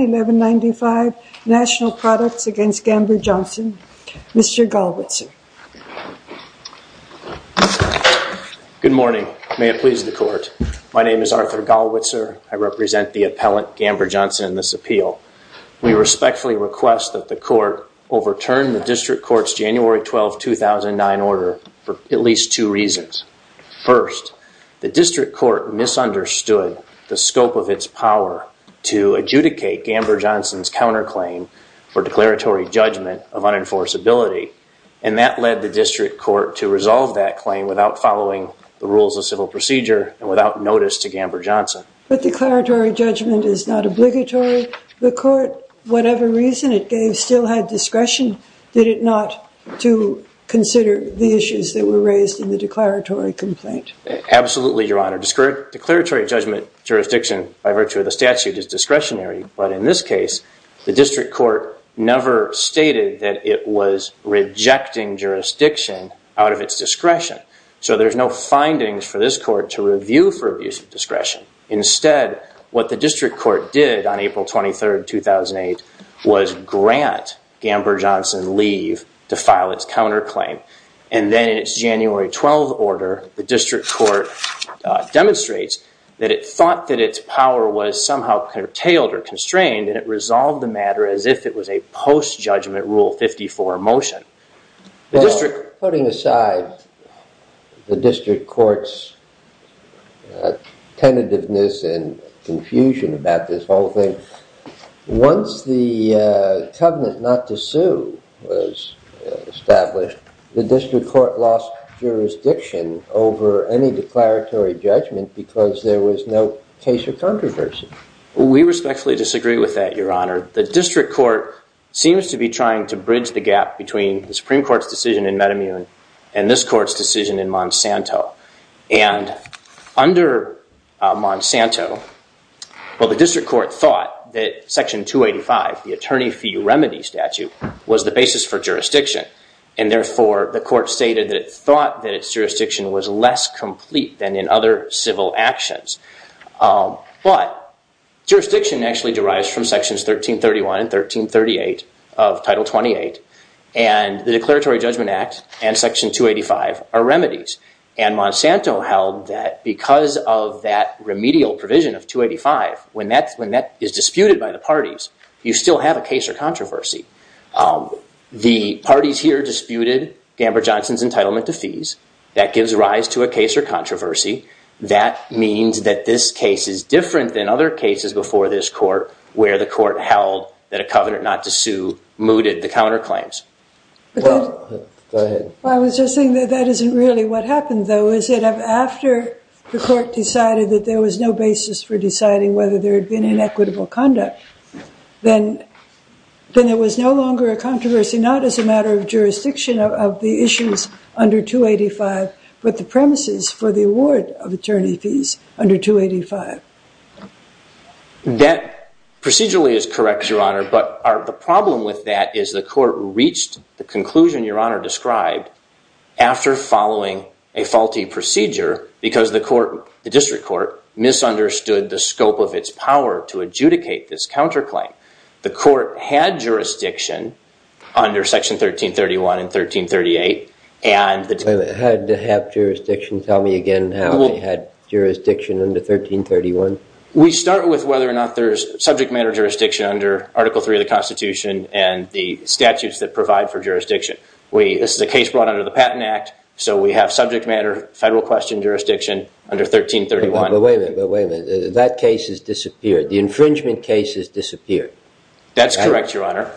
1195 National Products v. Gamber-Johnson, Mr. Gallwitzer. Good morning. May it please the Court. My name is Arthur Gallwitzer. I represent the appellant Gamber-Johnson in this appeal. We respectfully request that the Court overturn the District Court's January 12, 2009 order for at least two reasons. First, the District Court misunderstood the scope of its power to adjudicate Gamber-Johnson's counterclaim for declaratory judgment of unenforceability, and that led the District Court to resolve that claim without following the rules of civil procedure and without notice to Gamber-Johnson. But declaratory judgment is not obligatory. The Court, whatever reason it gave, still had discretion, did it not, to consider the issues that were raised in the declaratory complaint? Absolutely, Your Honor. Declaratory judgment jurisdiction by virtue of the statute is discretionary, but in this case, the District Court never stated that it was rejecting jurisdiction out of its discretion. So there's no findings for this Court to review for abuse of discretion. Instead, what the District Court did on April 23, 2008, was grant Gamber-Johnson leave to file its counterclaim, and then in its January 12 order, the District Court demonstrates that it thought that its power was somehow curtailed or constrained, and it resolved the matter as if it was a post-judgment Rule 54 motion. The District... Putting aside the District Court's tentativeness and confusion about this whole thing, once the covenant not to sue was established, the District Court lost jurisdiction over any declaratory judgment because there was no case of controversy. We respectfully disagree with that, Your Honor. The District Court seems to be trying to bridge the gap between the Supreme Court's decision in Metamune and this Court's decision in Monsanto. And under Monsanto, well, the District Court thought that Section 285, the attorney fee remedy statute, was the basis for jurisdiction, and therefore, the Court stated that it thought that its jurisdiction was less complete than in other civil actions. But jurisdiction actually derives from Sections 1331 and 1338 of Title 28, and the Declaratory Judgment Act and Section 285 are remedies. And Monsanto held that because of that remedial provision of 285, when that is disputed by the parties, you still have a case or controversy. The parties here disputed Amber Johnson's entitlement to fees. That gives rise to a case or controversy. That means that this case is different than other cases before this Court where the Court held that a covenant not to sue mooted the counterclaims. Go ahead. Well, I was just saying that that isn't really what happened, though, is that after the Court decided that there was no basis for deciding whether there had been inequitable conduct, then there was no longer a controversy, not as a matter of jurisdiction of the issues under 285, but the premises for the award of attorney fees under 285. That procedurally is correct, Your Honor, but the problem with that is the Court reached the conclusion Your Honor described after following a faulty procedure because the District Court misunderstood the scope of its power to adjudicate this counterclaim. The Court had jurisdiction under Section 1331 and 1338, and the- Had jurisdiction? Tell me again how they had jurisdiction under 1331. We start with whether or not there's subject matter jurisdiction under Article 3 of the Constitution and the statutes that provide for jurisdiction. This is a case brought under the Patent Act, so we have subject matter federal question jurisdiction under 1331. But wait a minute. That case has disappeared. The infringement case has disappeared. That's correct, Your Honor.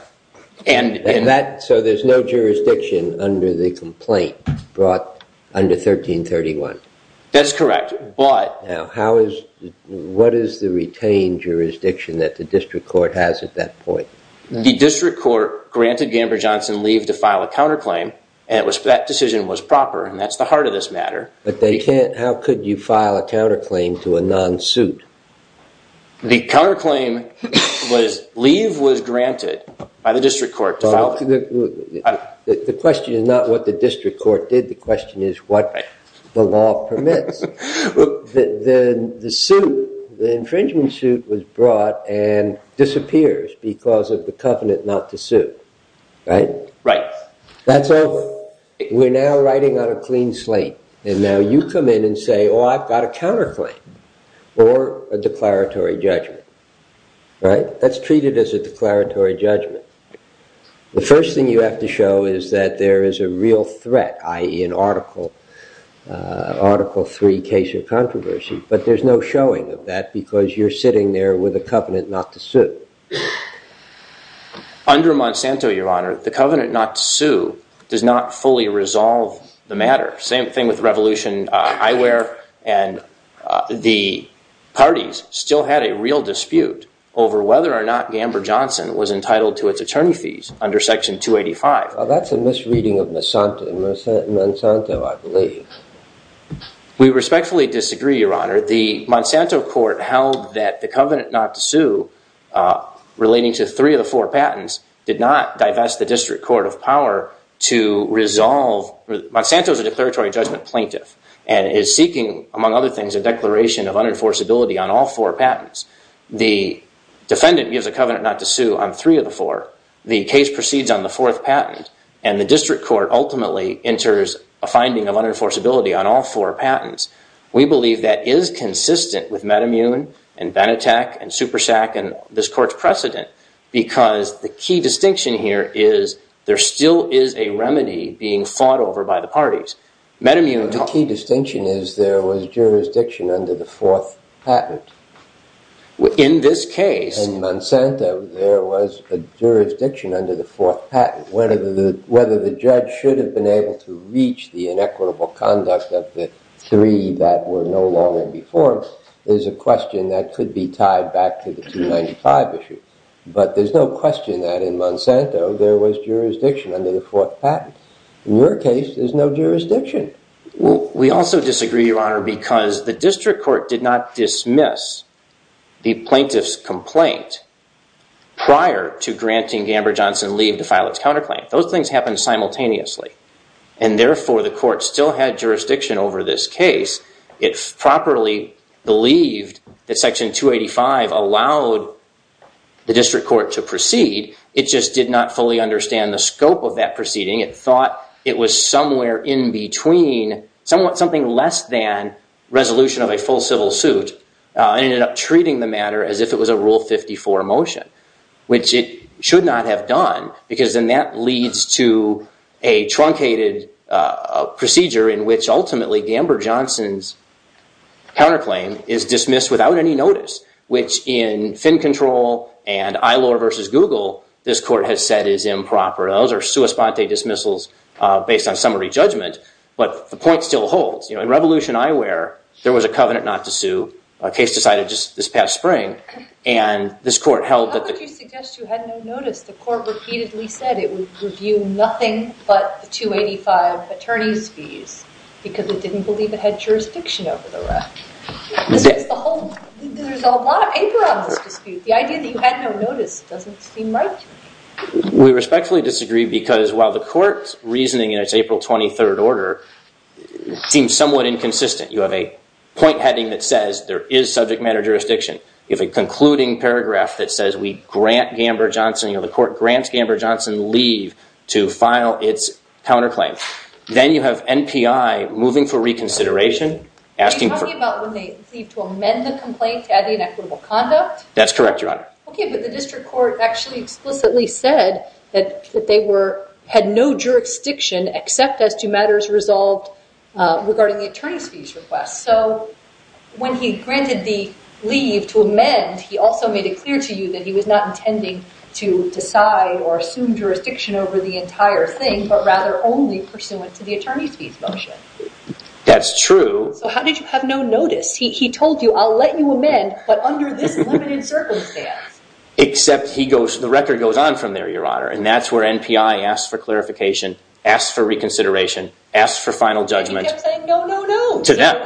So there's no jurisdiction under the complaint brought under 1331? That's correct, but- How is- What is the retained jurisdiction that the District Court has at that point? The District Court granted Gamber Johnson leave to file a counterclaim, and that decision was proper, and that's the heart of this matter. But they can't- How could you file a counterclaim to a non-suit? The counterclaim was leave was granted by the District Court to file- The question is not what the District Court did. The question is what the law permits. The suit, the infringement suit was brought and disappears because of the covenant not to sue. Right? Right. That's over. We're now writing on a clean slate, and now you come in and say, oh, I've got a counterclaim or a declaratory judgment. Right? That's treated as a declaratory judgment. The first thing you have to show is that there is a real threat, i.e. in Article 3 case of controversy, but there's no showing of that because you're sitting there with a covenant not to sue. Under Monsanto, Your Honor, the covenant not to sue does not fully resolve the matter. Same thing with Revolution Eyewear, and the parties still had a real dispute over whether or not Gamber Johnson was entitled to its attorney fees under Section 285. That's a misreading of Monsanto, I believe. We respectfully disagree, Your Honor. The Monsanto court held that the covenant not to sue relating to three of the four patents did not divest the District Court of Power to resolve- Monsanto is a declaratory judgment plaintiff and is seeking, among other things, a declaration of unenforceability on all four patents. The defendant gives a covenant not to sue on three of the four. The case proceeds on the fourth patent, and the District Court ultimately enters a finding of unenforceability on all four patents. We believe that is consistent with MetaMun and Benetech and SuperSAC and this court's precedent because the key distinction here is there still is a remedy being fought over by the parties. MetaMun- The key distinction is there was jurisdiction under the fourth patent. Whether the judge should have been able to reach the inequitable conduct of the three that were no longer before is a question that could be tied back to the 295 issue, but there's no question that in Monsanto there was jurisdiction under the fourth patent. In your case, there's no jurisdiction. We also disagree, Your Honor, because the file its counterclaim. Those things happen simultaneously, and therefore the court still had jurisdiction over this case. It properly believed that Section 285 allowed the District Court to proceed. It just did not fully understand the scope of that proceeding. It thought it was somewhere in between somewhat something less than resolution of a full civil suit and ended up because then that leads to a truncated procedure in which ultimately Gamber-Johnson's counterclaim is dismissed without any notice, which in Finn Control and Ilor versus Google, this court has said is improper. Those are sua sponte dismissals based on summary judgment, but the point still holds. In Revolution Eyewear, there was a covenant not to sue, a case decided just this past spring, and this court held that- You suggest you had no notice. The court repeatedly said it would review nothing but the 285 attorney's fees because it didn't believe it had jurisdiction over the rest. There's a lot of anger on this dispute. The idea that you had no notice doesn't seem right. We respectfully disagree because while the court's reasoning in its April 23rd order seems somewhat inconsistent. You have a point heading that says there is subject matter jurisdiction. You have a concluding paragraph that says we grant Gamber-Johnson. The court grants Gamber-Johnson leave to file its counterclaim. Then you have NPI moving for reconsideration asking for- Are you talking about when they leave to amend the complaint to add the inequitable conduct? That's correct, Your Honor. Okay, but the district court actually explicitly said that they had no jurisdiction except as to leave to amend. He also made it clear to you that he was not intending to decide or assume jurisdiction over the entire thing, but rather only pursuant to the attorney's fees motion. That's true. How did you have no notice? He told you, I'll let you amend, but under this limited circumstance. Except the record goes on from there, Your Honor, and that's where NPI asks for clarification, asks for reconsideration, asks for final judgment- He kept saying, no, no, no. To them.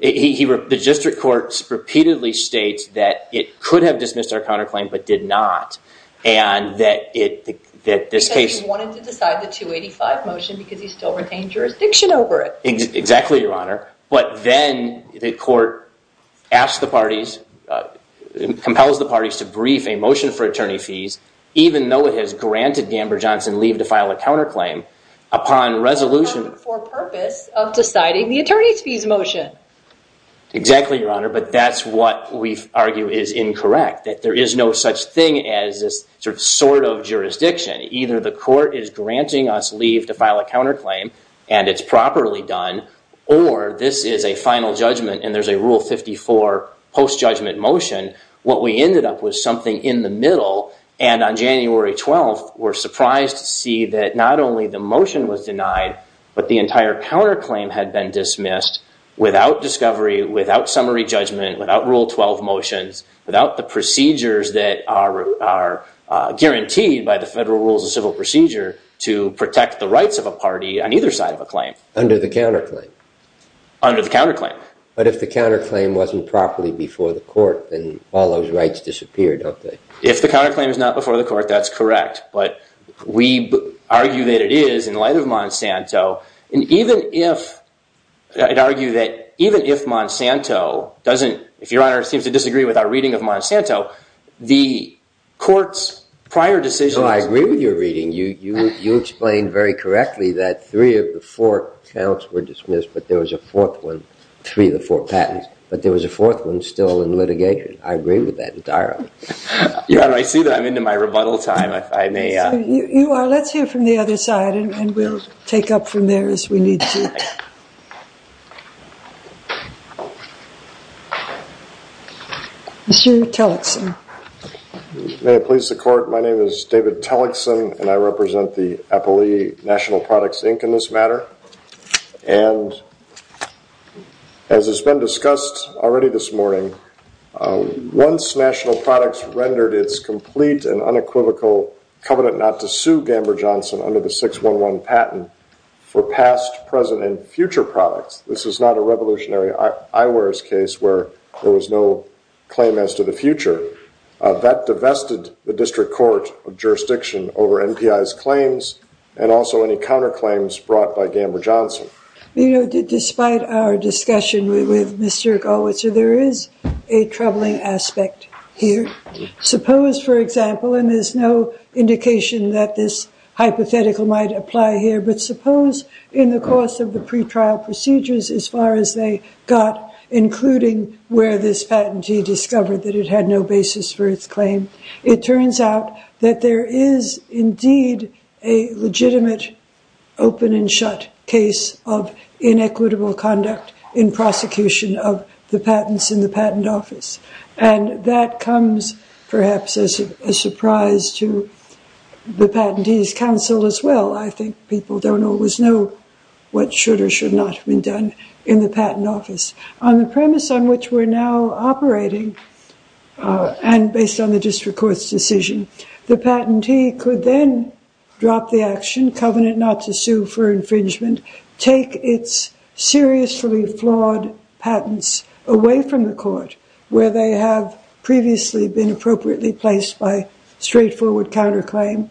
The district court repeatedly states that it could have dismissed our counterclaim, but did not, and that this case- Because he wanted to decide the 285 motion because he still retained jurisdiction over it. Exactly, Your Honor, but then the court asks the parties, compels the parties to brief a motion for attorney fees, even though it has granted Gamber-Johnson leave to file a counterclaim. Upon resolution- For purpose of deciding the attorney's fees motion. Exactly, Your Honor, but that's what we argue is incorrect, that there is no such thing as this sort of jurisdiction. Either the court is granting us leave to file a counterclaim, and it's properly done, or this is a final judgment and there's a Rule 54 post-judgment motion. What we ended up with something in the middle, and on January 12th, we're surprised to not only the motion was denied, but the entire counterclaim had been dismissed without discovery, without summary judgment, without Rule 12 motions, without the procedures that are guaranteed by the Federal Rules of Civil Procedure to protect the rights of a party on either side of a claim. Under the counterclaim? Under the counterclaim. But if the counterclaim wasn't properly before the court, then all those rights disappeared, don't they? If the counterclaim is not before the court, that's correct, but we argue that it is in light of Monsanto. And even if, I'd argue that even if Monsanto doesn't, if Your Honor seems to disagree with our reading of Monsanto, the court's prior decision- No, I agree with your reading. You explained very correctly that three of the four counts were dismissed, but there was a fourth one, three of the four patents, but there was a fourth one in litigation. I agree with that entirely. Your Honor, I see that I'm into my rebuttal time, if I may- You are. Let's hear from the other side, and we'll take up from there as we need to. Mr. Tellickson. May it please the court, my name is David Tellickson, and I represent the Appalachee National Products Inc. in this matter. And as has been discussed already this morning, once National Products rendered its complete and unequivocal covenant not to sue Gamber Johnson under the 611 patent for past, present, and future products, this is not a revolutionary eyewear's case where there was no claim as to the future. That divested the District Court of Jurisdiction over NPI's claims, and also any counterclaims brought by Gamber Johnson. Despite our discussion with Mr. Goldwasser, there is a troubling aspect here. Suppose, for example, and there's no indication that this hypothetical might apply here, but suppose in the course of the pretrial procedures, as far as they got, including where this patentee discovered that it had no basis for its claim, it turns out that there is indeed a legitimate open and shut case of inequitable conduct in prosecution of the patents in the patent office. And that comes perhaps as a surprise to the patentee's counsel as well. I think people don't always know what should or should not have been done in the patent office. On the premise on which we're now operating, and based on the District Court's decision, the patentee could drop the action, covenant not to sue for infringement, take its seriously flawed patents away from the court where they have previously been appropriately placed by straightforward counterclaim,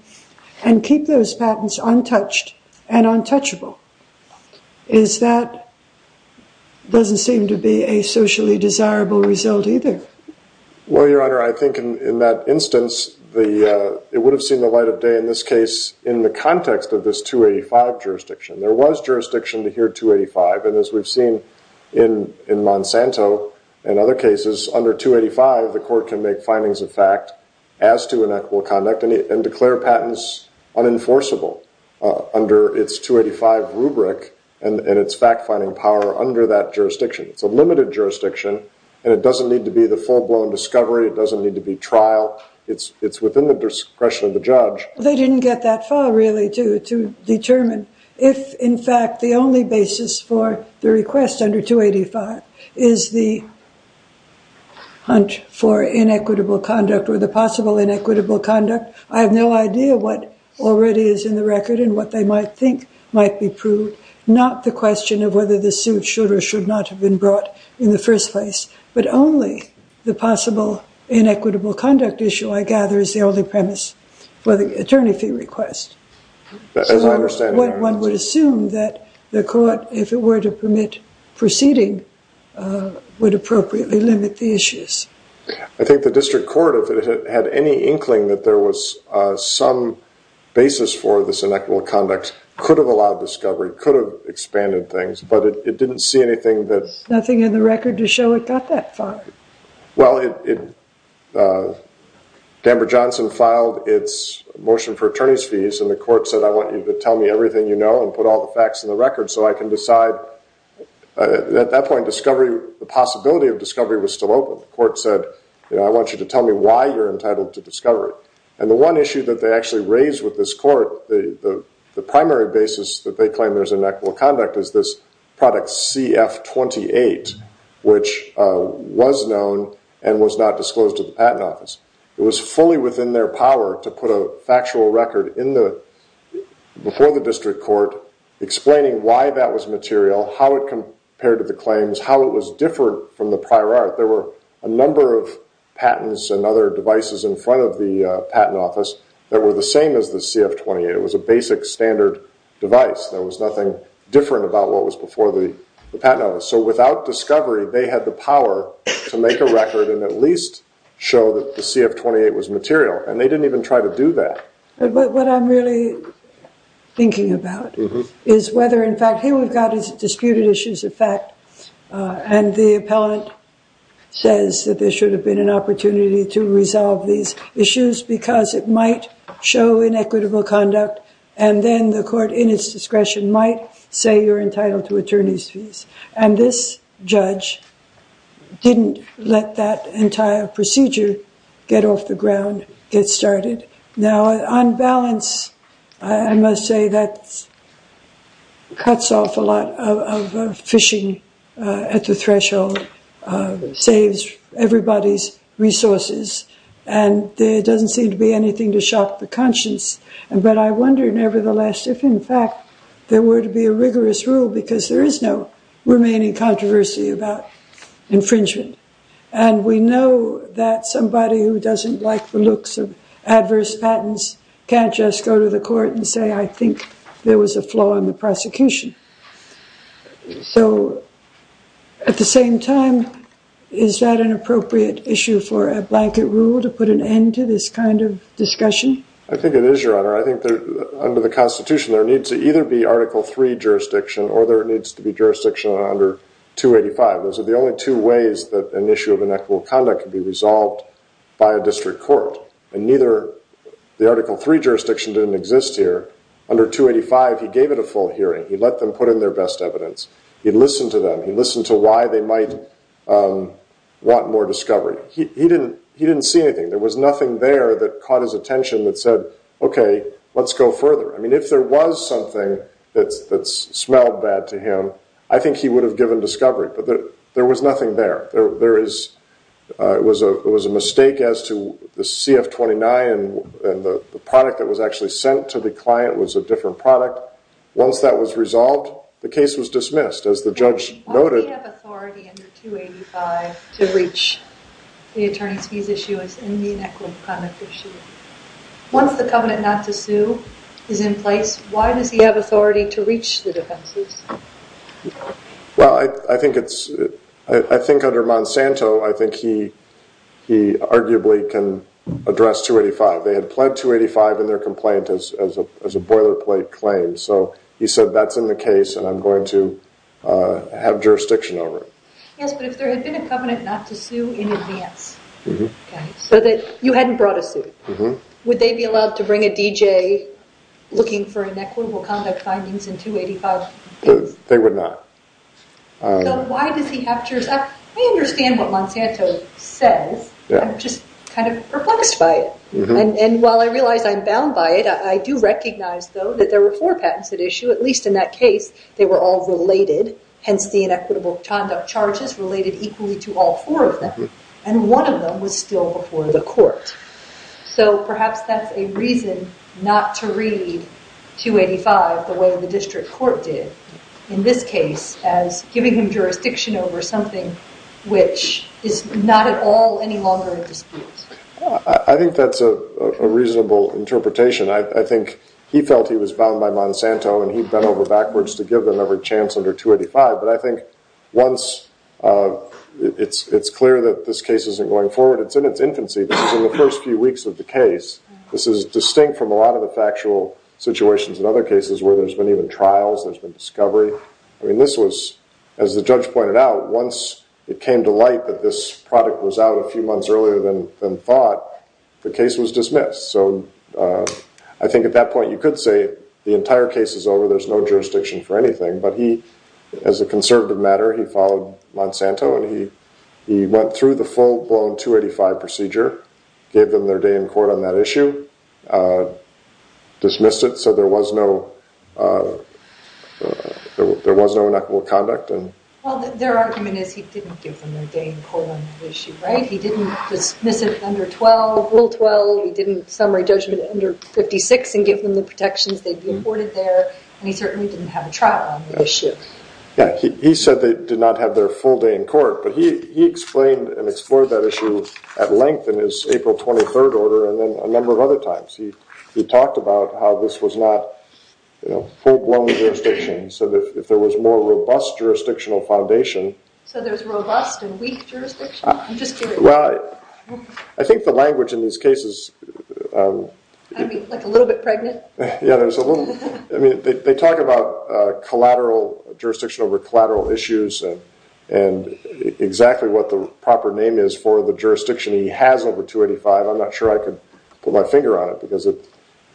and keep those patents untouched and untouchable. Is that doesn't seem to be a socially desirable result either. Well, Your Honor, I think in that instance, it would have seen the light of day in this case, in the context of this 285 jurisdiction. There was jurisdiction to hear 285. And as we've seen in Monsanto and other cases, under 285, the court can make findings of fact as to inequitable conduct and declare patents unenforceable under its 285 rubric and its fact finding power under that jurisdiction. It's a limited jurisdiction, and it doesn't need to full-blown discovery. It doesn't need to be trial. It's within the discretion of the judge. They didn't get that far, really, to determine if, in fact, the only basis for the request under 285 is the hunt for inequitable conduct or the possible inequitable conduct. I have no idea what already is in the record and what they might think might be proved, not the question of whether the suit should or should not have been brought in the first place, but only the possible inequitable conduct issue, I gather, is the only premise for the attorney fee request. As I understand it, Your Honor. One would assume that the court, if it were to permit proceeding, would appropriately limit the issues. I think the district court, if it had any inkling that there was some basis for this but it didn't see anything that... Nothing in the record to show it got that far. Well, Danbury-Johnson filed its motion for attorney's fees, and the court said, I want you to tell me everything you know and put all the facts in the record so I can decide. At that point, the possibility of discovery was still open. The court said, I want you to tell me why you're entitled to discovery. The one issue that they actually raised with this court, the primary basis that they claim there's inequitable conduct is this product CF-28, which was known and was not disclosed to the patent office. It was fully within their power to put a factual record before the district court explaining why that was material, how it compared to the claims, how it was different from the prior art. There were a number of patents and other devices in front of the patent office that were the same as the CF-28. It was a basic standard device. There was nothing different about what was before the patent office. So without discovery, they had the power to make a record and at least show that the CF-28 was material, and they didn't even try to do that. What I'm really thinking about is whether, in fact, here we've got disputed issues of fact, and the appellant says that there should have been an opportunity to resolve these because it might show inequitable conduct, and then the court in its discretion might say you're entitled to attorney's fees. And this judge didn't let that entire procedure get off the ground, get started. Now, on balance, I must say that it cuts off a lot of fishing at the threshold, saves everybody's resources, and there doesn't seem to be anything to shock the conscience. But I wonder, nevertheless, if, in fact, there were to be a rigorous rule because there is no remaining controversy about infringement. And we know that somebody who doesn't like the looks of adverse patents can't just go to the prosecution. So at the same time, is that an appropriate issue for a blanket rule to put an end to this kind of discussion? I think it is, Your Honor. I think under the Constitution, there needs to either be Article III jurisdiction or there needs to be jurisdiction under 285. Those are the only two ways that an issue of inequitable conduct can be resolved by a district court. And neither the Article III jurisdiction didn't exist here. Under 285, he gave it a full hearing. He let them put in their best evidence. He listened to them. He listened to why they might want more discovery. He didn't see anything. There was nothing there that caught his attention that said, okay, let's go further. I mean, if there was something that smelled bad to him, I think he would have given discovery. But there was nothing there. It was a mistake as to the CF-29 and the product that was actually to the client was a different product. Once that was resolved, the case was dismissed, as the judge noted. Why does he have authority under 285 to reach the attorney's fees issue as an inequitable conduct issue? Once the covenant not to sue is in place, why does he have authority to reach the defenses? Well, I think under Monsanto, I think he arguably can address 285. They had pled 285 in their complaint as a boilerplate claim. So he said, that's in the case, and I'm going to have jurisdiction over it. Yes, but if there had been a covenant not to sue in advance, so that you hadn't brought a suit, would they be allowed to bring a DJ looking for inequitable conduct findings in 285? They would not. So why does he have jurisdiction? I understand what Monsanto says. I'm just kind of perplexed by it. While I realize I'm bound by it, I do recognize, though, that there were four patents at issue. At least in that case, they were all related, hence the inequitable conduct charges related equally to all four of them. One of them was still before the court. So perhaps that's a reason not to read 285 the way the district court did, in this case, as giving him jurisdiction over something which is not at all any longer a dispute. I think that's a reasonable interpretation. I think he felt he was bound by Monsanto, and he bent over backwards to give them every chance under 285. But I think once it's clear that this case isn't going forward, it's in its infancy. This is in the first few weeks of the case. This is distinct from a lot of the factual situations in other cases where there's been even trials. There's been discovery. I mean, this was, as the judge pointed out, once it came to light that this product was out a few months earlier than thought, the case was dismissed. So I think at that point you could say the entire case is over, there's no jurisdiction for anything. But as a conservative matter, he followed Monsanto, and he went through the full-blown 285 procedure, gave them their day in court on that issue, dismissed it so there was no conduct. Well, their argument is he didn't give them their day in court on the issue, right? He didn't dismiss it under Rule 12, he didn't summary judgment under 56 and give them the protections they'd be afforded there, and he certainly didn't have a trial on the issue. Yeah, he said they did not have their full day in court, but he explained and explored that issue at length in his April 23rd order and then a number of other times. He talked about how this was not, you know, full-blown jurisdiction, so that if there was more robust jurisdictional foundation- So there's robust and weak jurisdiction? Well, I think the language in these cases- I mean, like a little bit pregnant? Yeah, there's a little- I mean, they talk about collateral jurisdiction over collateral issues, and exactly what the proper name is for the jurisdiction he has over 285. I'm not sure I could put my finger on it because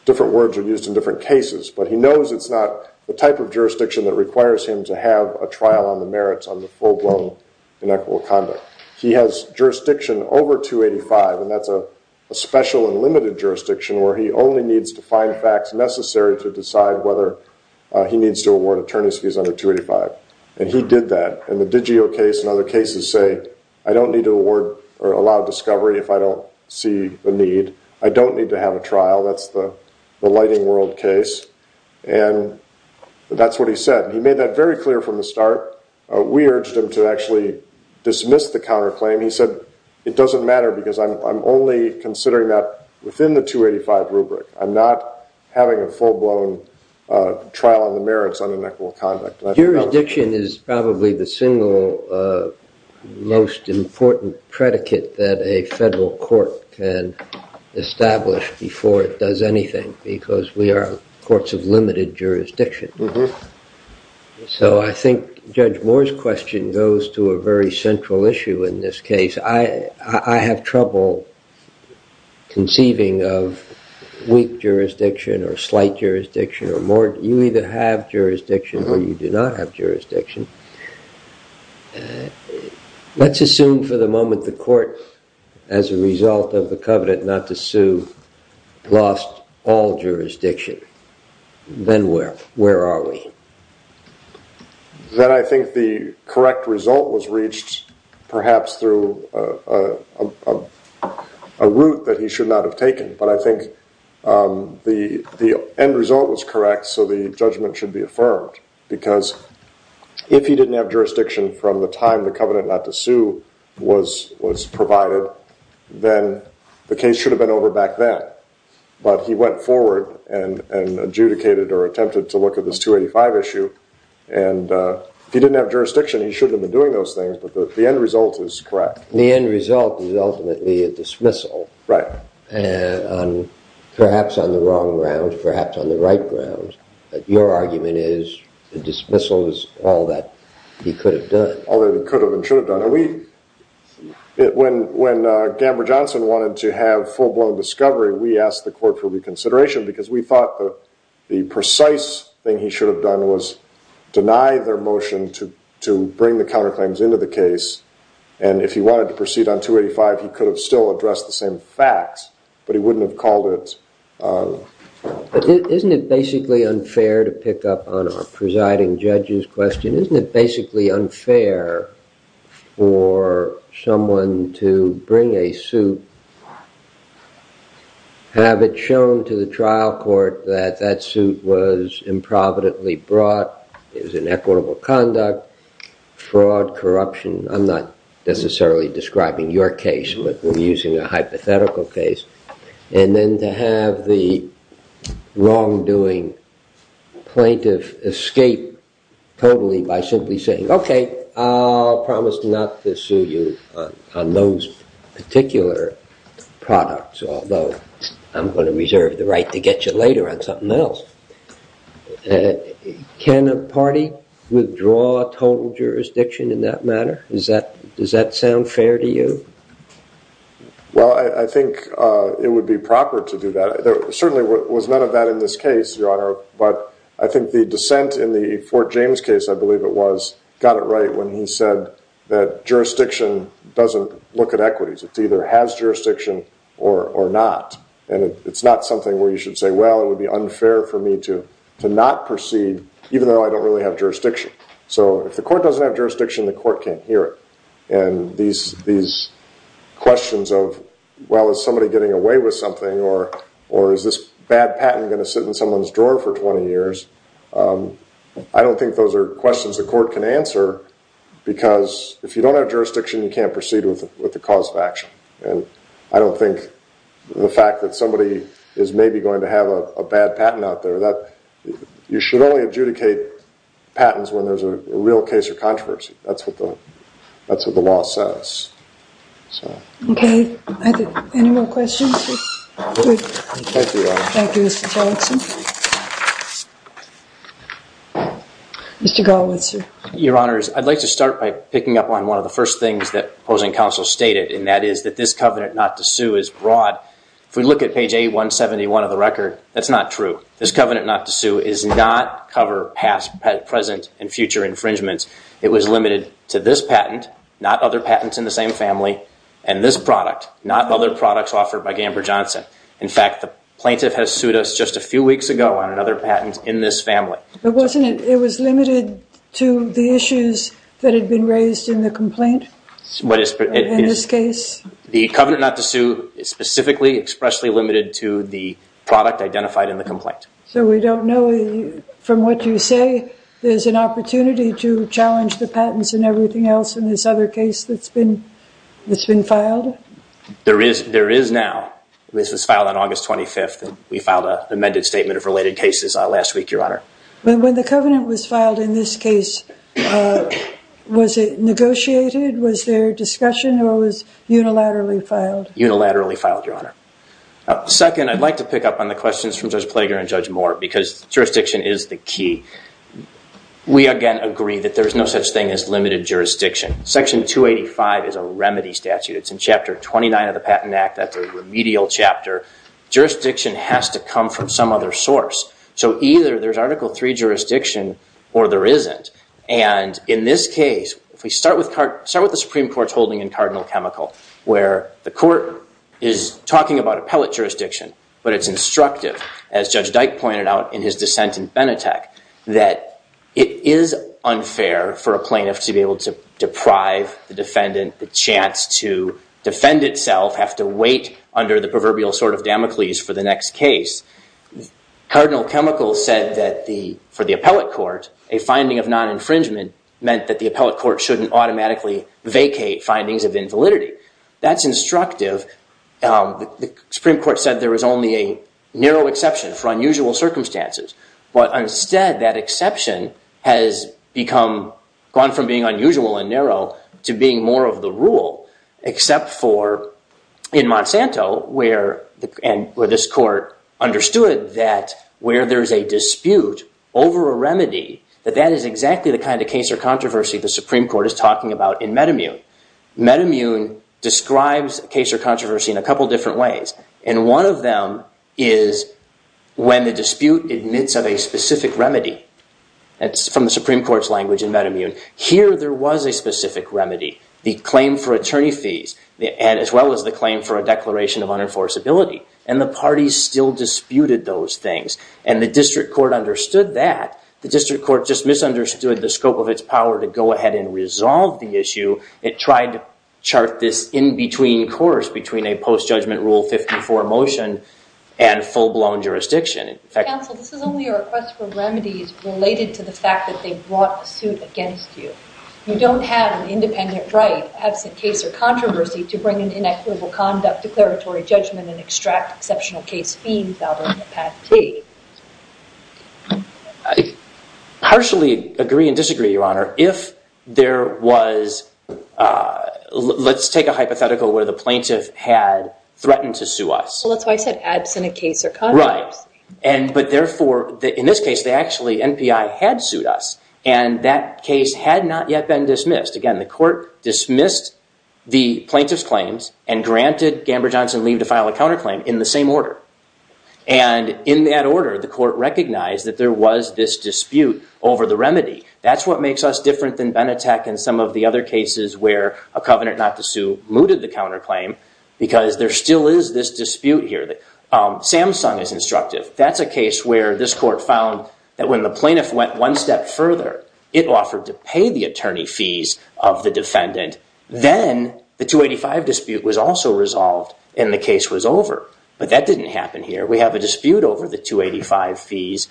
different words are used in different cases, but he knows it's not the type of jurisdiction that requires him to have a trial on the merits on the full-blown inequitable conduct. He has jurisdiction over 285, and that's a special and limited jurisdiction where he only needs to find facts necessary to decide whether he needs to award attorney's fees under 285, and he did that. In the Digio case and other cases, say, I don't need to award or allow discovery if I don't see the need. I don't need to have a trial. That's the he said, and he made that very clear from the start. We urged him to actually dismiss the counterclaim. He said, it doesn't matter because I'm only considering that within the 285 rubric. I'm not having a full-blown trial on the merits on inequitable conduct. Jurisdiction is probably the single most important predicate that a federal court can have. I think Judge Moore's question goes to a very central issue in this case. I have trouble conceiving of weak jurisdiction or slight jurisdiction or more. You either have jurisdiction or you do not have jurisdiction. Let's assume for the moment the court, as a result of the covenant not to sue, lost all jurisdiction. Then where are we? Then I think the correct result was reached perhaps through a route that he should not have taken, but I think the end result was correct, so the judgment should be affirmed because if he didn't have jurisdiction from the time the covenant not to sue was provided, then the case should have been over back then, but he went forward and adjudicated or attempted to look at this 285 issue. If he didn't have jurisdiction, he shouldn't have been doing those things, but the end result is correct. The end result is ultimately a dismissal, and perhaps on the wrong ground, perhaps on the right ground, but your argument is the dismissal is all that he could have done. All that he could have and should have done. When Gamber Johnson wanted to have full-blown discovery, we asked the court for reconsideration because we thought the precise thing he should have done was deny their motion to bring the counterclaims into the case, and if he wanted to proceed on 285, he could have still addressed the same facts, but he wouldn't have called it... Isn't it basically unfair to pick up on our presiding judge's question? Isn't it basically unfair for someone to bring a suit, have it shown to the trial court that that suit was improvidently brought, it was an equitable conduct, fraud, corruption. I'm not necessarily describing your case, but we're using a hypothetical case, and then to have the wrongdoing plaintiff escape totally by simply saying, okay, I'll promise not to sue you on those particular products, although I'm going to reserve the right to get you later on something else. Can a party withdraw total jurisdiction in that manner? Does that sound fair to you? Well, I think it would be proper to do that. There certainly was none of that in this case, Your Honor, but I think the dissent in the Fort James case, I believe it was, got it right when he said that jurisdiction doesn't look at equities. It either has jurisdiction or not, and it's not something where you should say, well, it would be unfair for me to not proceed even though I don't really have jurisdiction. So if the court doesn't have jurisdiction, the court can't hear it. And these questions of, well, is somebody getting away with something, or is this bad patent going to sit in someone's drawer for 20 years? I don't think those are questions the court can answer, because if you don't have jurisdiction, you can't proceed with the cause of action. And I don't think the fact that somebody is maybe going to have a bad patent out there, you should only adjudicate patents when there's a real case of controversy. That's what the law says. Okay. Any more questions? Thank you, Your Honor. Thank you, Mr. Tillotson. Mr. Galwitz, sir. Your Honor, I'd like to start by picking up on one of the first things that opposing counsel stated, and that is that this covenant not to sue is broad. If we look at page 171 of the record, that's not true. This covenant not to sue is not cover past, present, and future infringements. It was limited to this patent, not other patents in the same family, and this product, not other products offered by Gamber Johnson. In fact, the plaintiff has sued us just a few weeks ago on another patent in this family. But wasn't it, it was limited to the issues that had been raised in the complaint? In this case? The covenant not to sue is specifically expressly limited to the product identified in the complaint. So we don't know, from what you say, there's an opportunity to challenge the patents and everything else in this other case that's been filed? There is now. This was filed on August 25th, and we filed an amended statement of related cases last week, Your Honor. When the covenant was filed in this case, was it negotiated? Was there unilaterally filed? Unilaterally filed, Your Honor. Second, I'd like to pick up on the questions from Judge Plager and Judge Moore, because jurisdiction is the key. We, again, agree that there's no such thing as limited jurisdiction. Section 285 is a remedy statute. It's in Chapter 29 of the Patent Act. That's a remedial chapter. Jurisdiction has to come from some other source. So either there's Article III jurisdiction, or there isn't. And in this case, if we start with the Supreme Court's ruling in Cardinal Chemical, where the court is talking about appellate jurisdiction, but it's instructive, as Judge Dyke pointed out in his dissent in Benetech, that it is unfair for a plaintiff to be able to deprive the defendant the chance to defend itself, have to wait under the proverbial sword of Damocles for the next case. Cardinal Chemical said that for the appellate court, a finding of non-infringement meant that the appellate court shouldn't automatically vacate findings of invalidity. That's instructive. The Supreme Court said there was only a narrow exception for unusual circumstances. But instead, that exception has gone from being unusual and narrow to being more of the rule, except for in Monsanto, where this court understood that where there's a dispute over a remedy, that that is exactly the kind of case or controversy the Supreme Court had in Metamune. Metamune describes case or controversy in a couple different ways. And one of them is when the dispute admits of a specific remedy. That's from the Supreme Court's language in Metamune. Here, there was a specific remedy, the claim for attorney fees, as well as the claim for a declaration of unenforceability. And the parties still disputed those things. And the district court understood that. The district court just misunderstood the scope of its power to go ahead and resolve the issue. It tried to chart this in-between course between a post-judgment rule 54 motion and full-blown jurisdiction. Counsel, this is only a request for remedies related to the fact that they brought a suit against you. You don't have an independent right, absent case or controversy, to bring in inequitable conduct, declaratory judgment, and extract exceptional case fee without a path to. I partially agree and disagree, Your Honor. If there was, let's take a hypothetical where the plaintiff had threatened to sue us. Well, that's why I said absent a case or controversy. Right. But therefore, in this case, they actually, NPI, had sued us. And that case had not yet been dismissed. Again, the court dismissed the plaintiff's claims and granted Gamber-Johnson leave to file a counterclaim in the same order. And in that order, the court recognized that there was this dispute over the remedy. That's what makes us different than Benetech and some of the other cases where a covenant not to sue mooted the counterclaim because there still is this dispute here. Samsung is instructive. That's a case where this court found that when the plaintiff went one step further, it offered to pay the attorney fees of the defendant. Then the 285 dispute was also resolved and the case was over. But that didn't happen here. We have a dispute over the 285 fees,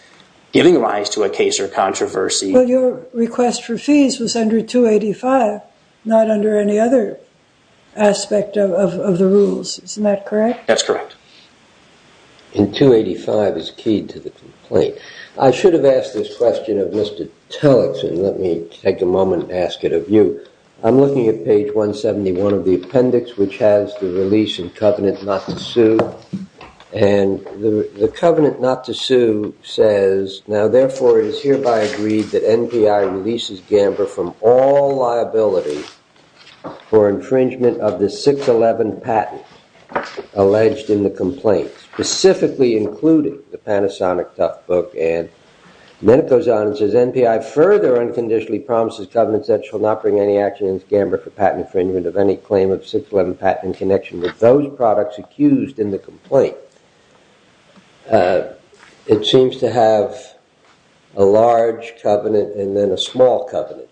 giving rise to a case or controversy. Well, your request for fees was under 285, not under any other aspect of the rules. Isn't that correct? That's correct. And 285 is key to the complaint. I should have asked this question of Tillotson. Let me take a moment and ask it of you. I'm looking at page 171 of the appendix, which has the release and covenant not to sue. And the covenant not to sue says, now, therefore, it is hereby agreed that NPI releases Gamber from all liability for infringement of the 611 patent alleged in the complaint, specifically including the Panasonic Toughbook. And then it goes on and says, NPI further unconditionally promises covenants that shall not bring any action in Gamber for patent infringement of any claim of 611 patent in connection with those products accused in the complaint. It seems to have a large covenant and then a small covenant.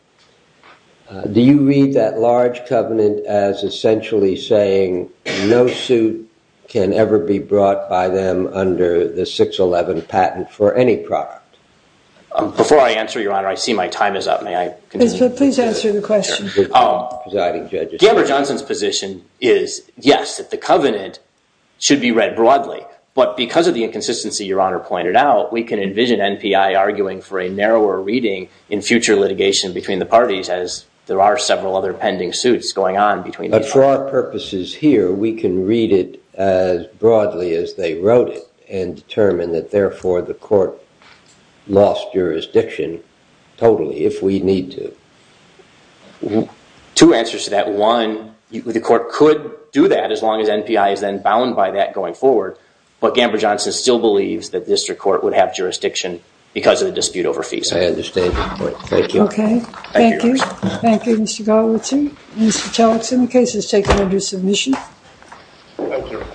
Do you read that large covenant as essentially saying no suit can ever be brought by them under the 611 patent for any product? Before I answer, your honor, I see my time is up. May I continue? Please answer the question. Gamber Johnson's position is, yes, that the covenant should be read broadly. But because of the inconsistency your honor pointed out, we can envision NPI arguing for a narrower reading in future litigation between the parties as there are several other pending suits going on between the parties. But for our purposes here, we can read it as broadly as they wrote it and determine that therefore the court lost jurisdiction totally if we need to. Two answers to that. One, the court could do that as long as NPI is then bound by that going forward. But Gamber Johnson still believes that district court would have jurisdiction because of the dispute over fees. I understand your point. Thank you. Thank you. Thank you, Mr. Garlitzer. Mr. Chalikson, the case is taken under submission. Thank you.